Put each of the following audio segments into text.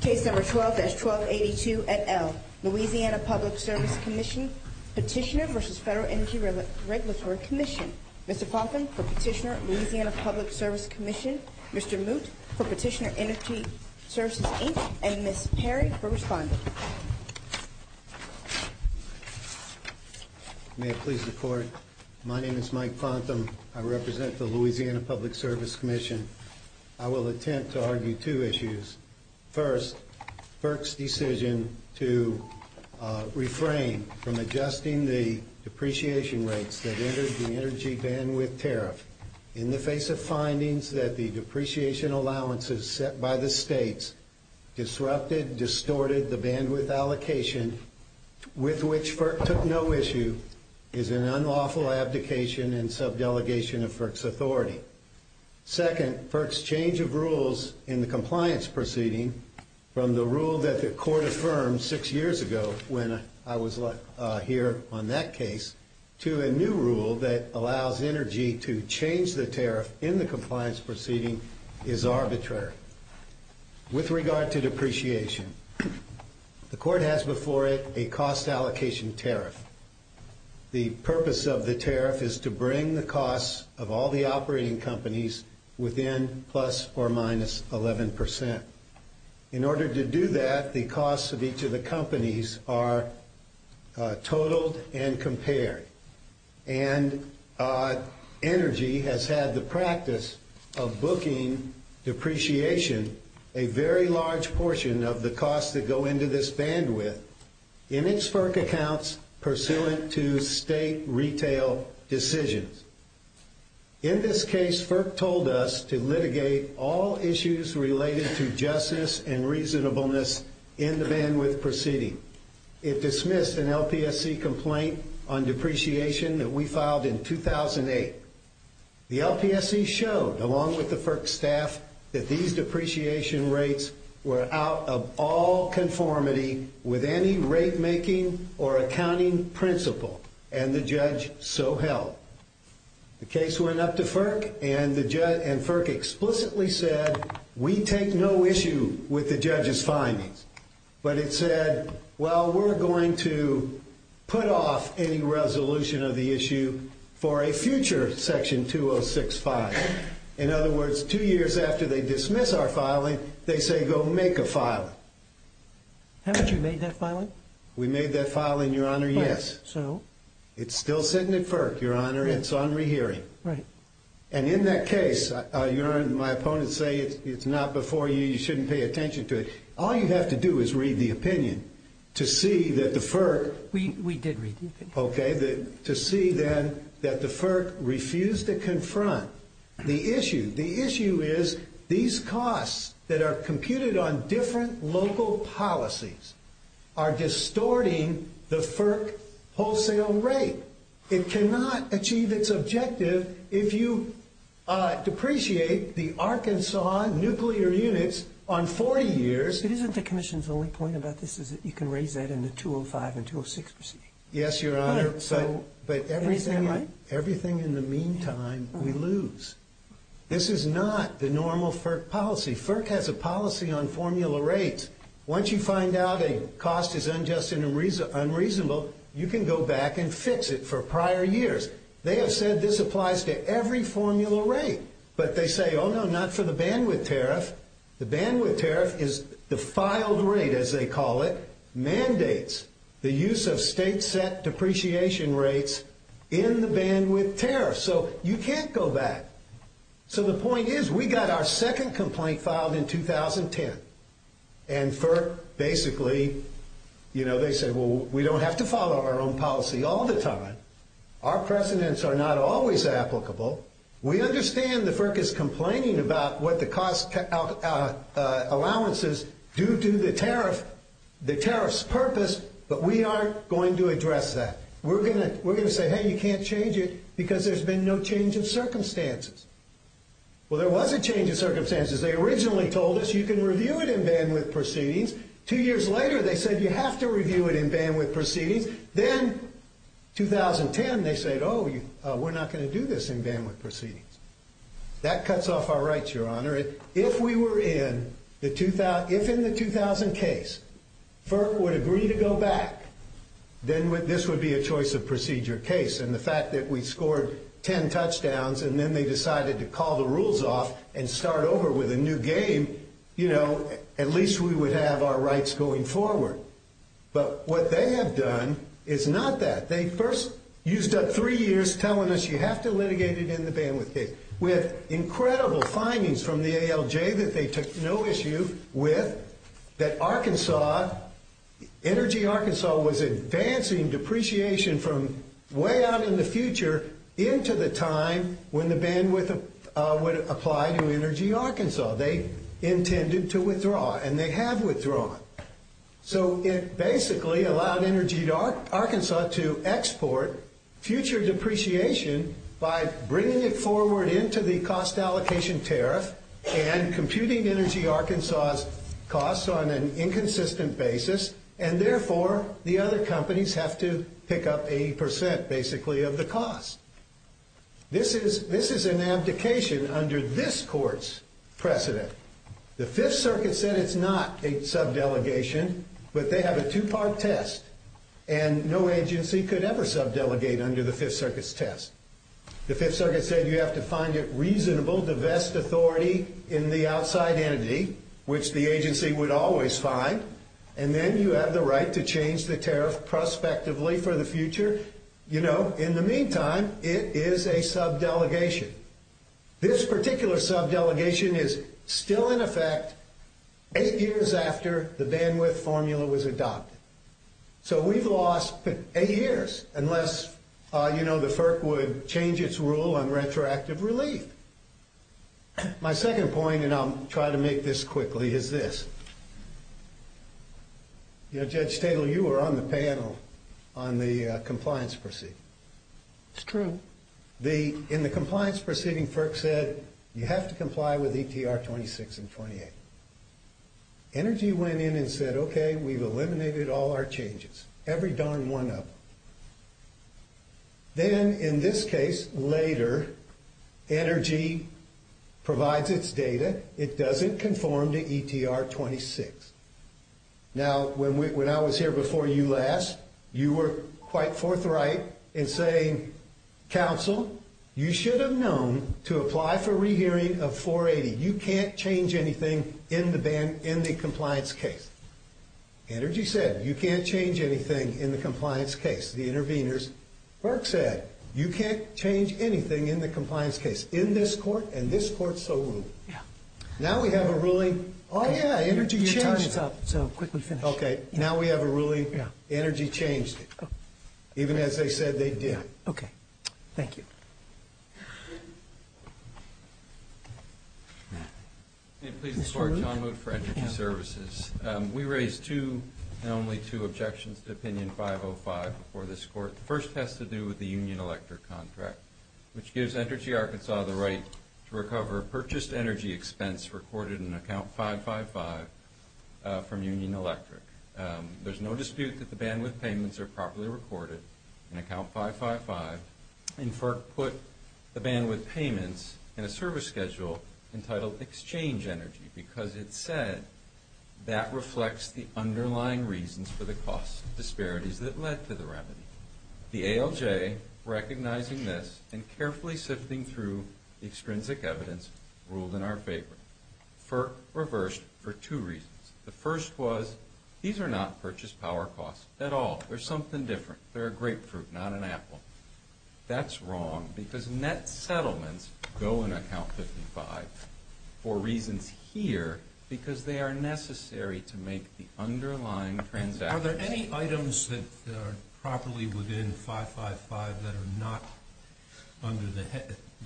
Case number 12-1282 et al. Louisiana Public Service Commission Petitioner v. Federal Energy Regulatory Commission Mr. Pontham for Petitioner, Louisiana Public Service Commission Mr. Moot for Petitioner Energy Services, Inc. and Ms. Perry for responding. May it please the Court. My name is Mike Pontham. I represent the Louisiana Public Service Commission. I will attempt to argue two issues. First, FERC's decision to refrain from adjusting the depreciation rates that entered the energy bandwidth tariff in the face of findings that the depreciation allowances set by the states disrupted, distorted the bandwidth allocation with which FERC took no issue is an unlawful abdication and sub-delegation of FERC's authority. Second, FERC's change of rules in the compliance proceeding from the rule that the Court affirmed six years ago when I was here on that case to a new rule that allows energy to change the tariff in the compliance proceeding is arbitrary. With regard to depreciation, the Court has before it a cost allocation tariff. The purpose of the tariff is to bring the costs of all the operating companies within plus or minus 11 percent. In order to do that, the costs of each of the companies are totaled and compared. And Energy has had the practice of booking depreciation a very large portion of the costs that go into this bandwidth in its FERC accounts pursuant to state retail decisions. In this case, FERC told us to litigate all issues related to justice and reasonableness in the bandwidth proceeding. It dismissed an LPSC complaint on depreciation that we filed in 2008. The LPSC showed, along with the FERC staff, that these depreciation rates were out of all conformity with any rate-making or accounting principle, and the judge so held. The case went up to FERC, and FERC explicitly said, we take no issue with the judge's findings. But it said, well, we're going to put off any resolution of the issue for a future Section 2065. In other words, two years after they dismiss our filing, they say, go make a filing. Haven't you made that filing? We made that filing, Your Honor, yes. So? It's still sitting at FERC, Your Honor. It's on rehearing. Right. And in that case, Your Honor, my opponents say it's not before you. You shouldn't pay attention to it. All you have to do is read the opinion to see that the FERC We did read the opinion. Okay, to see then that the FERC refused to confront the issue. The issue is these costs that are computed on different local policies are distorting the FERC wholesale rate. It cannot achieve its objective if you depreciate the Arkansas nuclear units on 40 years. But isn't the Commission's only point about this is that you can raise that in the 205 and 206 proceedings? Yes, Your Honor, but everything in the meantime we lose. This is not the normal FERC policy. FERC has a policy on formula rates. Once you find out a cost is unjust and unreasonable, you can go back and fix it for prior years. They have said this applies to every formula rate. But they say, oh, no, not for the bandwidth tariff. The bandwidth tariff is the filed rate, as they call it, mandates the use of state-set depreciation rates in the bandwidth tariff. So you can't go back. So the point is we got our second complaint filed in 2010, and FERC basically, you know, they said, well, we don't have to follow our own policy all the time. Our precedents are not always applicable. We understand the FERC is complaining about what the cost allowances do to the tariff's purpose, but we aren't going to address that. We're going to say, hey, you can't change it, because there's been no change in circumstances. Well, there was a change in circumstances. They originally told us you can review it in bandwidth proceedings. Two years later, they said you have to review it in bandwidth proceedings. Then 2010, they said, oh, we're not going to do this in bandwidth proceedings. That cuts off our rights, Your Honor. If we were in the 2000 case, FERC would agree to go back. Then this would be a choice-of-procedure case, and the fact that we scored ten touchdowns, and then they decided to call the rules off and start over with a new game, you know, at least we would have our rights going forward. But what they have done is not that. They first used up three years telling us you have to litigate it in the bandwidth case, with incredible findings from the ALJ that they took no issue with, that Arkansas, Energy Arkansas, was advancing depreciation from way out in the future into the time when the bandwidth would apply to Energy Arkansas. They intended to withdraw, and they have withdrawn. So it basically allowed Energy Arkansas to export future depreciation by bringing it forward into the cost allocation tariff and computing Energy Arkansas's costs on an inconsistent basis, and therefore the other companies have to pick up 80 percent, basically, of the cost. This is an abdication under this court's precedent. The Fifth Circuit said it's not a subdelegation, but they have a two-part test, and no agency could ever subdelegate under the Fifth Circuit's test. The Fifth Circuit said you have to find it reasonable, divest authority in the outside entity, which the agency would always find, and then you have the right to change the tariff prospectively for the future. You know, in the meantime, it is a subdelegation. This particular subdelegation is still in effect eight years after the bandwidth formula was adopted. So we've lost eight years unless, you know, the FERC would change its rule on retroactive relief. My second point, and I'll try to make this quickly, is this. You know, Judge Stadel, you were on the panel on the compliance proceeding. It's true. In the compliance proceeding, FERC said you have to comply with ETR 26 and 28. Energy went in and said, okay, we've eliminated all our changes, every darn one of them. Then, in this case, later, Energy provides its data. It doesn't conform to ETR 26. Now, when I was here before you last, you were quite forthright in saying, counsel, you should have known to apply for rehearing of 480. You can't change anything in the compliance case. Energy said, you can't change anything in the compliance case, the interveners. FERC said, you can't change anything in the compliance case in this court, and this court so ruled. Now we have a ruling, oh, yeah, Energy changed it. Your time is up, so quickly finish. Okay, now we have a ruling, Energy changed it. Even as they said they did. Okay, thank you. Please support John Moot for Energy Services. We raised two, and only two, objections to opinion 505 before this court. The first has to do with the Union Electric contract, which gives Energy Arkansas the right to recover purchased energy expense recorded in account 555 from Union Electric. There's no dispute that the bandwidth payments are properly recorded in account 555, and FERC put the bandwidth payments in a service schedule entitled Exchange Energy because it said that reflects the underlying reasons for the cost disparities that led to the remedy. The ALJ, recognizing this and carefully sifting through the extrinsic evidence, ruled in our favor. FERC reversed for two reasons. The first was, these are not purchased power costs at all. They're something different. They're a grapefruit, not an apple. That's wrong because net settlements go in account 555 for reasons here because they are necessary to make the underlying transaction. Are there any items that are properly within 555 that are not under the,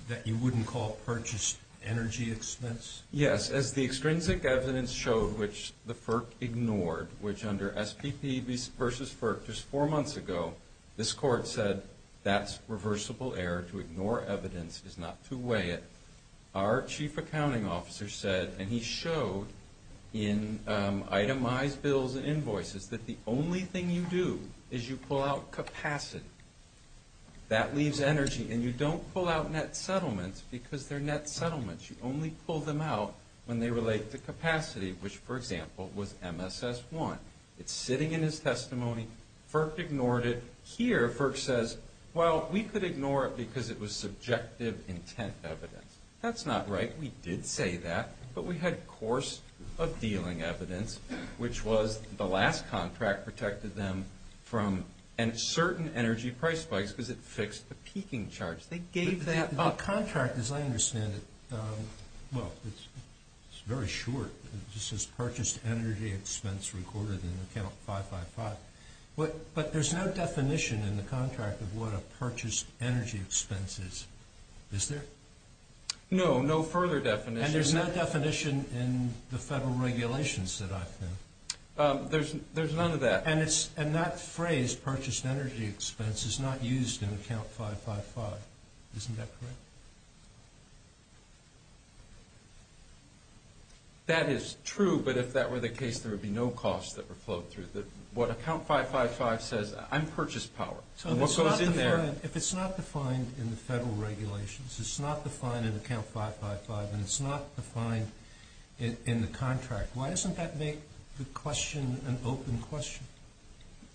that you wouldn't call purchased energy expense? Yes, as the extrinsic evidence showed, which the FERC ignored, which under SPP versus FERC just four months ago, this court said, that's reversible error to ignore evidence is not to weigh it. Our chief accounting officer said, and he showed in itemized bills and invoices, that the only thing you do is you pull out capacity. That leaves energy, and you don't pull out net settlements because they're net settlements. You only pull them out when they relate to capacity, which, for example, was MSS-1. It's sitting in his testimony. FERC ignored it. Here, FERC says, well, we could ignore it because it was subjective intent evidence. That's not right. We did say that, but we had course of dealing evidence, which was the last contract protected them from certain energy price spikes because it fixed the peaking charge. They gave that up. The contract, as I understand it, well, it's very short. It just says purchased energy expense recorded in account 555, but there's no definition in the contract of what a purchased energy expense is. Is there? No, no further definition. And there's no definition in the federal regulations that I've found? There's none of that. And that phrase, purchased energy expense, is not used in account 555. Isn't that correct? That is true, but if that were the case, there would be no costs that were flowed through. What account 555 says, I'm purchased power. If it's not defined in the federal regulations, it's not defined in account 555, and it's not defined in the contract, why doesn't that make the question an open question?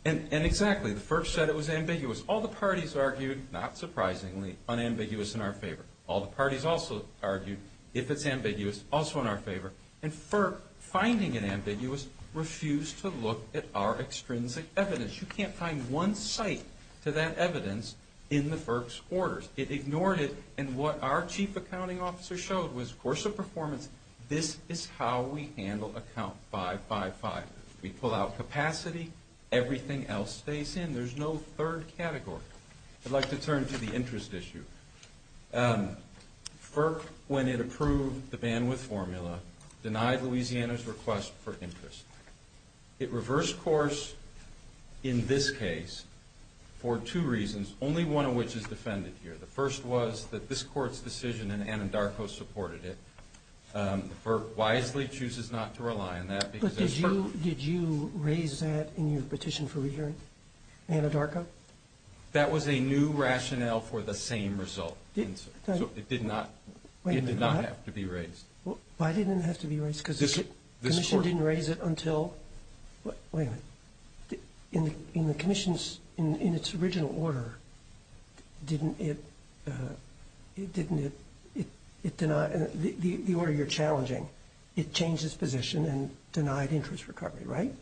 And exactly. The FERC said it was ambiguous. All the parties argued, not surprisingly, unambiguous in our favor. All the parties also argued, if it's ambiguous, also in our favor. And FERC, finding it ambiguous, refused to look at our extrinsic evidence. You can't find one site to that evidence in the FERC's orders. It ignored it, and what our chief accounting officer showed was, in the course of performance, this is how we handle account 555. We pull out capacity, everything else stays in. There's no third category. I'd like to turn to the interest issue. FERC, when it approved the bandwidth formula, denied Louisiana's request for interest. It reversed course in this case for two reasons, only one of which is defended here. The first was that this court's decision in Anadarko supported it. The FERC wisely chooses not to rely on that because there's FERC. But did you raise that in your petition for re-hearing, Anadarko? That was a new rationale for the same result. So it did not have to be raised. Why didn't it have to be raised? In the commission's original order, didn't it deny the order you're challenging? It changed its position and denied interest recovery, right?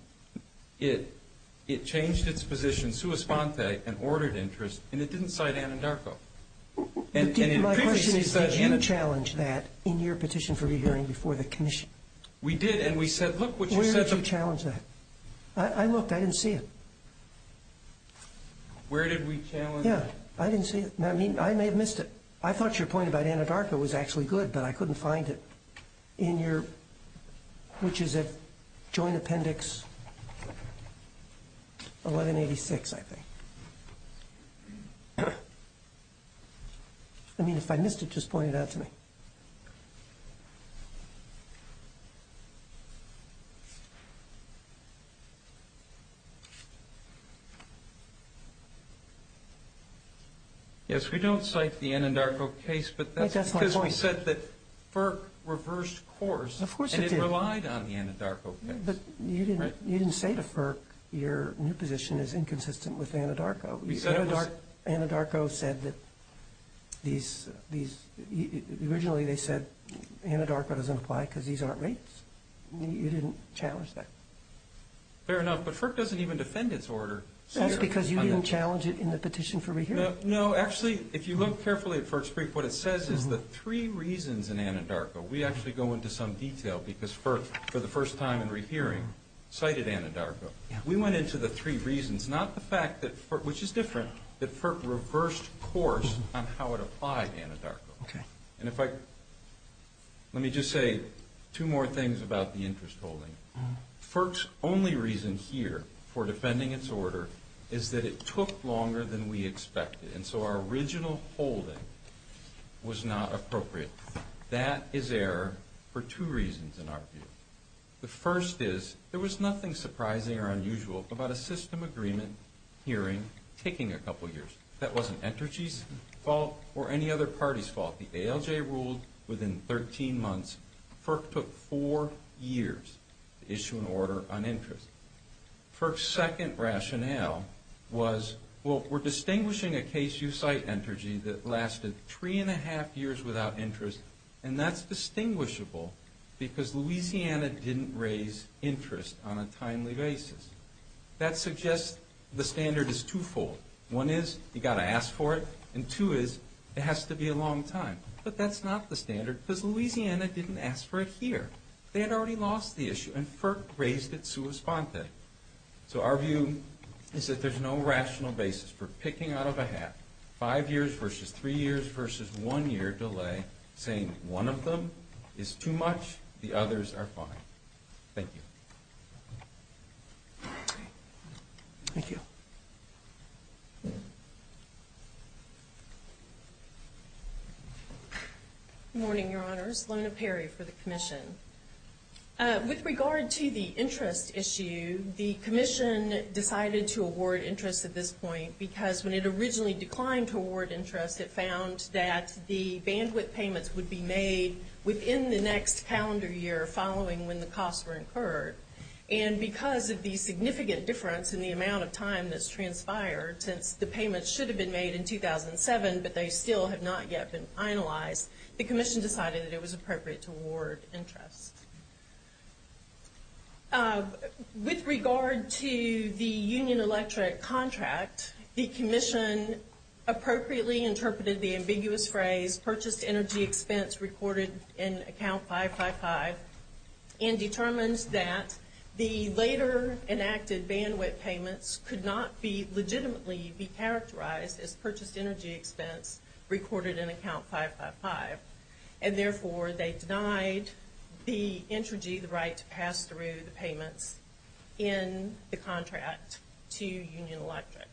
It changed its position, sua sponte, and ordered interest, and it didn't cite Anadarko. My question is, did you challenge that in your petition for re-hearing before the commission? We did, and we said, look what you said. Where did you challenge that? I looked. I didn't see it. Where did we challenge it? Yeah, I didn't see it. I mean, I may have missed it. I thought your point about Anadarko was actually good, but I couldn't find it in your, which is at Joint Appendix 1186, I think. I mean, if I missed it, just point it out to me. Yes, we don't cite the Anadarko case, but that's because we said that FERC reversed course. Of course it did. And it relied on the Anadarko case. But you didn't say to FERC your new position is inconsistent with Anadarko. Anadarko said that these, originally they said Anadarko doesn't apply because these aren't rates. You didn't challenge that. Fair enough, but FERC doesn't even defend its order. That's because you didn't challenge it in the petition for re-hearing. No, actually, if you look carefully at FERC's brief, what it says is the three reasons in Anadarko. We actually go into some detail because FERC, for the first time in re-hearing, cited Anadarko. We went into the three reasons, not the fact that FERC, which is different, that FERC reversed course on how it applied Anadarko. And if I, let me just say two more things about the interest holding. FERC's only reason here for defending its order is that it took longer than we expected. And so our original holding was not appropriate. That is error for two reasons in our view. The first is there was nothing surprising or unusual about a system agreement hearing taking a couple years. That wasn't Entergy's fault or any other party's fault. The ALJ ruled within 13 months. FERC took four years to issue an order on interest. FERC's second rationale was, well, we're distinguishing a case you cite, Entergy, that lasted three and a half years without interest, and that's distinguishable because Louisiana didn't raise interest on a timely basis. That suggests the standard is twofold. One is you've got to ask for it, and two is it has to be a long time. But that's not the standard because Louisiana didn't ask for it here. They had already lost the issue, and FERC raised it sui sponte. So our view is that there's no rational basis for picking out of a hat five years versus three years versus one year delay, saying one of them is too much, the others are fine. Thank you. Thank you. Good morning, Your Honors. Lona Perry for the commission. With regard to the interest issue, the commission decided to award interest at this point because when it originally declined to award interest, it found that the bandwidth payments would be made within the next calendar year following when the costs were incurred. And because of the significant difference in the amount of time that's transpired, since the payments should have been made in 2007 but they still have not yet been finalized, the commission decided that it was appropriate to award interest. With regard to the Union Electric contract, the commission appropriately interpreted the ambiguous phrase purchased energy expense recorded in account 555 and determines that the later enacted bandwidth payments could not be legitimately be characterized as purchased energy expense recorded in account 555. And therefore, they denied the entrogy, the right to pass through the payments in the contract to Union Electric.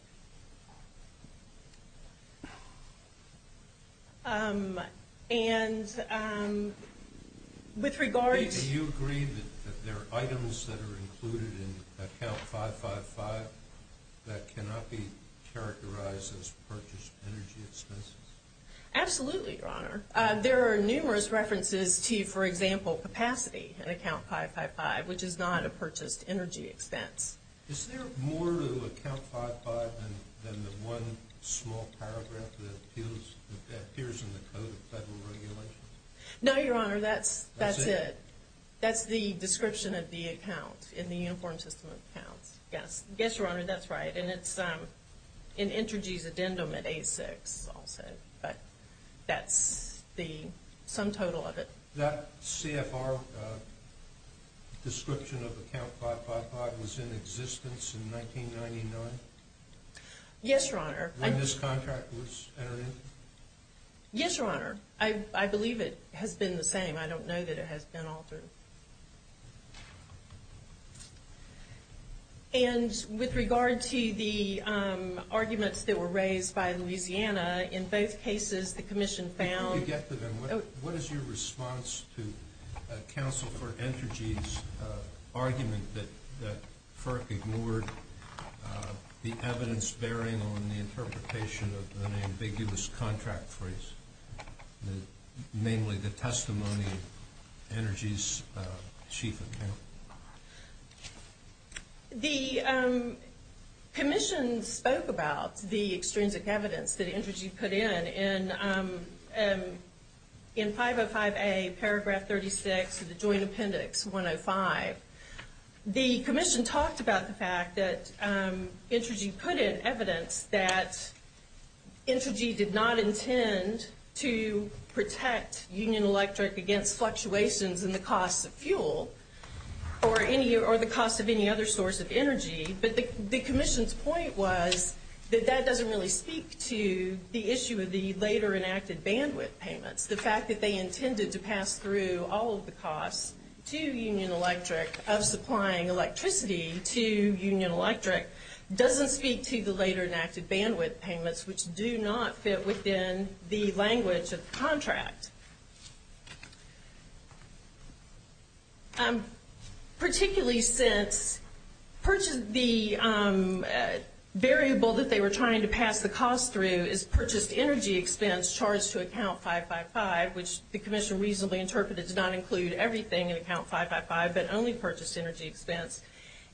And with regard to Do you agree that there are items that are included in account 555 that cannot be characterized as purchased energy expenses? Absolutely, Your Honor. There are numerous references to, for example, capacity in account 555, which is not a purchased energy expense. Is there more to account 555 than the one small paragraph that appears in the Code of Federal Regulations? No, Your Honor, that's it. That's it? That's the description of the account in the Uniform System of Accounts. Yes, Your Honor, that's right. And it's in entrogy's addendum at 86 also, but that's the sum total of it. That CFR description of account 555 was in existence in 1999? Yes, Your Honor. When this contract was entered in? Yes, Your Honor. I believe it has been the same. I don't know that it has been altered. And with regard to the arguments that were raised by Louisiana, in both cases the Commission found Before you get to them, what is your response to Counsel for Entergy's argument that FERC ignored the evidence bearing on the interpretation of an ambiguous contract phrase, namely the testimony of Entergy's chief account? The Commission spoke about the extrinsic evidence that Entergy put in, in 505A paragraph 36 of the Joint Appendix 105. The Commission talked about the fact that Entergy put in evidence that Entergy did not intend to protect Union Electric against fluctuations in the cost of fuel or the cost of any other source of energy. But the Commission's point was that that doesn't really speak to the issue of the later enacted bandwidth payments. The fact that they intended to pass through all of the costs to Union Electric of supplying electricity to Union Electric doesn't speak to the later enacted bandwidth payments, which do not fit within the language of the contract. Particularly since the variable that they were trying to pass the cost through is purchased energy expense charged to account 555, which the Commission reasonably interpreted to not include everything in account 555, but only purchased energy expense.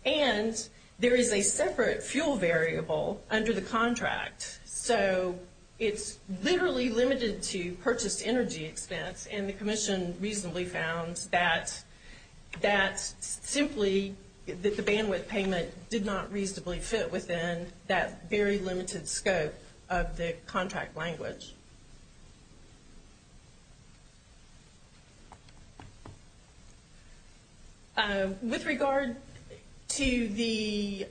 And there is a separate fuel variable under the contract. So it's literally limited to purchased energy expense, and the Commission reasonably found that simply that the bandwidth payment did not reasonably fit within that very limited scope of the contract language. With regard to the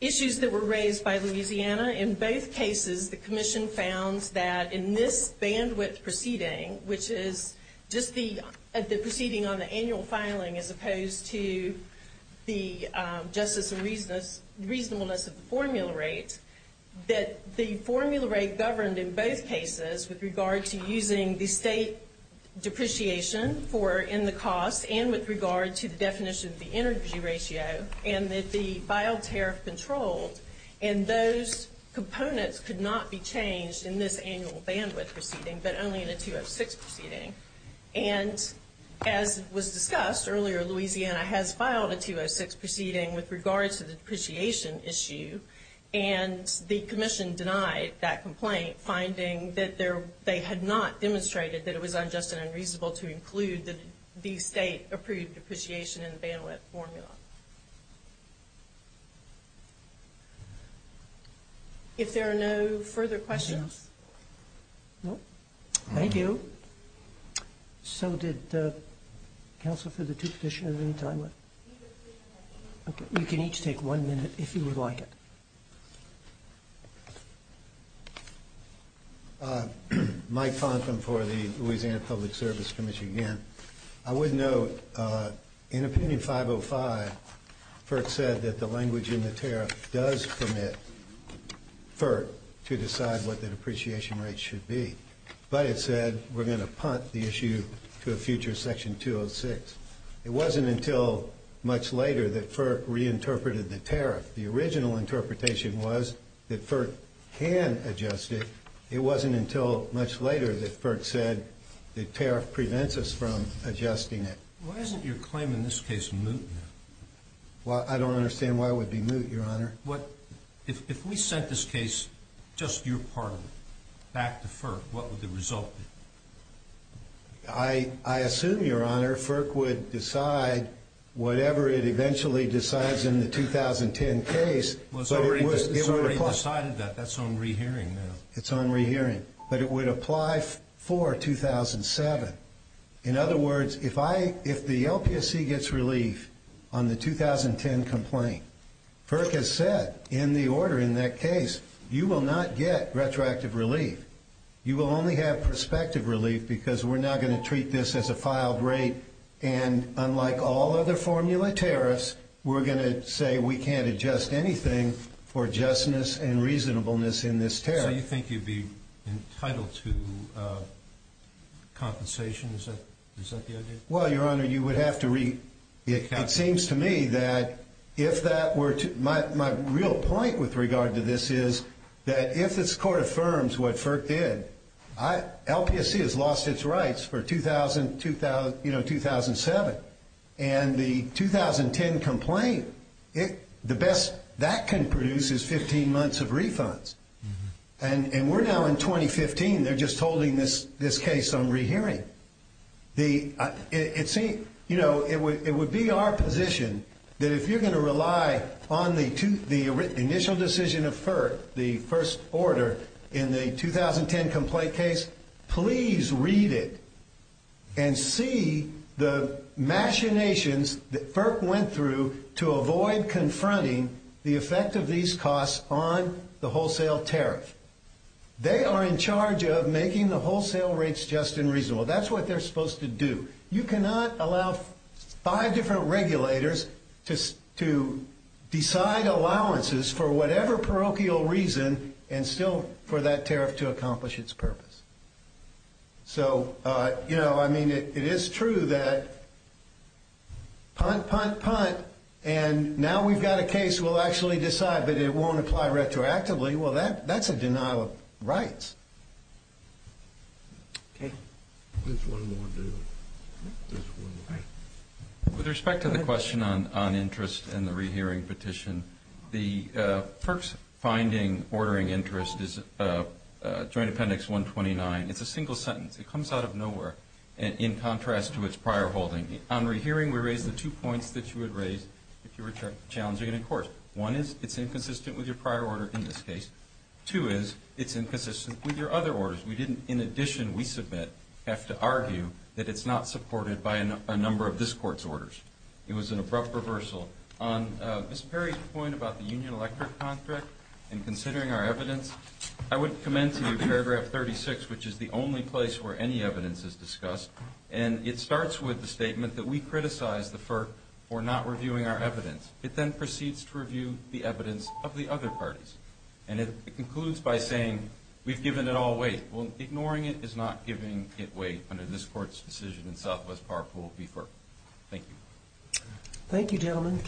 issues that were raised by Louisiana, in both cases the Commission found that in this bandwidth proceeding, which is just the proceeding on the annual filing as opposed to the justice and reasonableness of the formula rate, that the formula rate governed in both cases with regard to using the state depreciation for in the cost and with regard to the definition of the energy ratio, and that the filed tariff controlled, and those components could not be changed in this annual bandwidth proceeding, but only in a 206 proceeding. And as was discussed earlier, Louisiana has filed a 206 proceeding with regard to the depreciation issue, and the Commission denied that complaint, finding that they had not demonstrated that it was unjust and unreasonable to include the state-approved depreciation in the bandwidth formula. If there are no further questions. No? Thank you. So did counsel for the two petitioners at any time? You can each take one minute if you would like it. Mike Fonten for the Louisiana Public Service Commission again. I would note in opinion 505, FERC said that the language in the tariff does permit FERC to decide what the depreciation rate should be, but it said we're going to punt the issue to a future section 206. It wasn't until much later that FERC reinterpreted the tariff. The original interpretation was that FERC can adjust it. It wasn't until much later that FERC said the tariff prevents us from adjusting it. Why isn't your claim in this case moot now? I don't understand why it would be moot, Your Honor. If we sent this case just your part of it back to FERC, what would the result be? I assume, Your Honor, whatever it eventually decides in the 2010 case. It was already decided that. That's on rehearing now. It's on rehearing, but it would apply for 2007. In other words, if the LPSC gets relief on the 2010 complaint, FERC has said in the order in that case you will not get retroactive relief. You will only have prospective relief because we're not going to treat this as a filed rate and unlike all other formula tariffs, we're going to say we can't adjust anything for justness and reasonableness in this tariff. So you think you'd be entitled to compensation? Is that the idea? Well, Your Honor, you would have to read the account. It seems to me that if that were to— my real point with regard to this is that if this Court affirms what FERC did, LPSC has lost its rights for 2007, and the 2010 complaint, the best that can produce is 15 months of refunds. And we're now in 2015. They're just holding this case on rehearing. It would be our position that if you're going to rely on the initial decision of FERC, the first order in the 2010 complaint case, please read it and see the machinations that FERC went through to avoid confronting the effect of these costs on the wholesale tariff. They are in charge of making the wholesale rates just and reasonable. That's what they're supposed to do. You cannot allow five different regulators to decide allowances for whatever parochial reason and still for that tariff to accomplish its purpose. So, you know, I mean, it is true that punt, punt, punt, and now we've got a case we'll actually decide that it won't apply retroactively. Well, that's a denial of rights. Okay. There's one more deal. There's one more. With respect to the question on interest and the rehearing petition, the FERC's finding ordering interest is Joint Appendix 129. It's a single sentence. It comes out of nowhere in contrast to its prior holding. On rehearing, we raised the two points that you would raise if you were challenging it in court. One is it's inconsistent with your prior order in this case. Two is it's inconsistent with your other orders. We didn't, in addition, we submit, have to argue that it's not supported by a number of this court's orders. It was an abrupt reversal. On Ms. Perry's point about the Union Electric contract and considering our evidence, I would commend to you paragraph 36, which is the only place where any evidence is discussed, and it starts with the statement that we criticize the FERC for not reviewing our evidence. It then proceeds to review the evidence of the other parties, and it concludes by saying we've given it all away. Well, ignoring it is not giving it away under this court's decision in Southwest Power Pool v. FERC. Thank you. Thank you, gentlemen.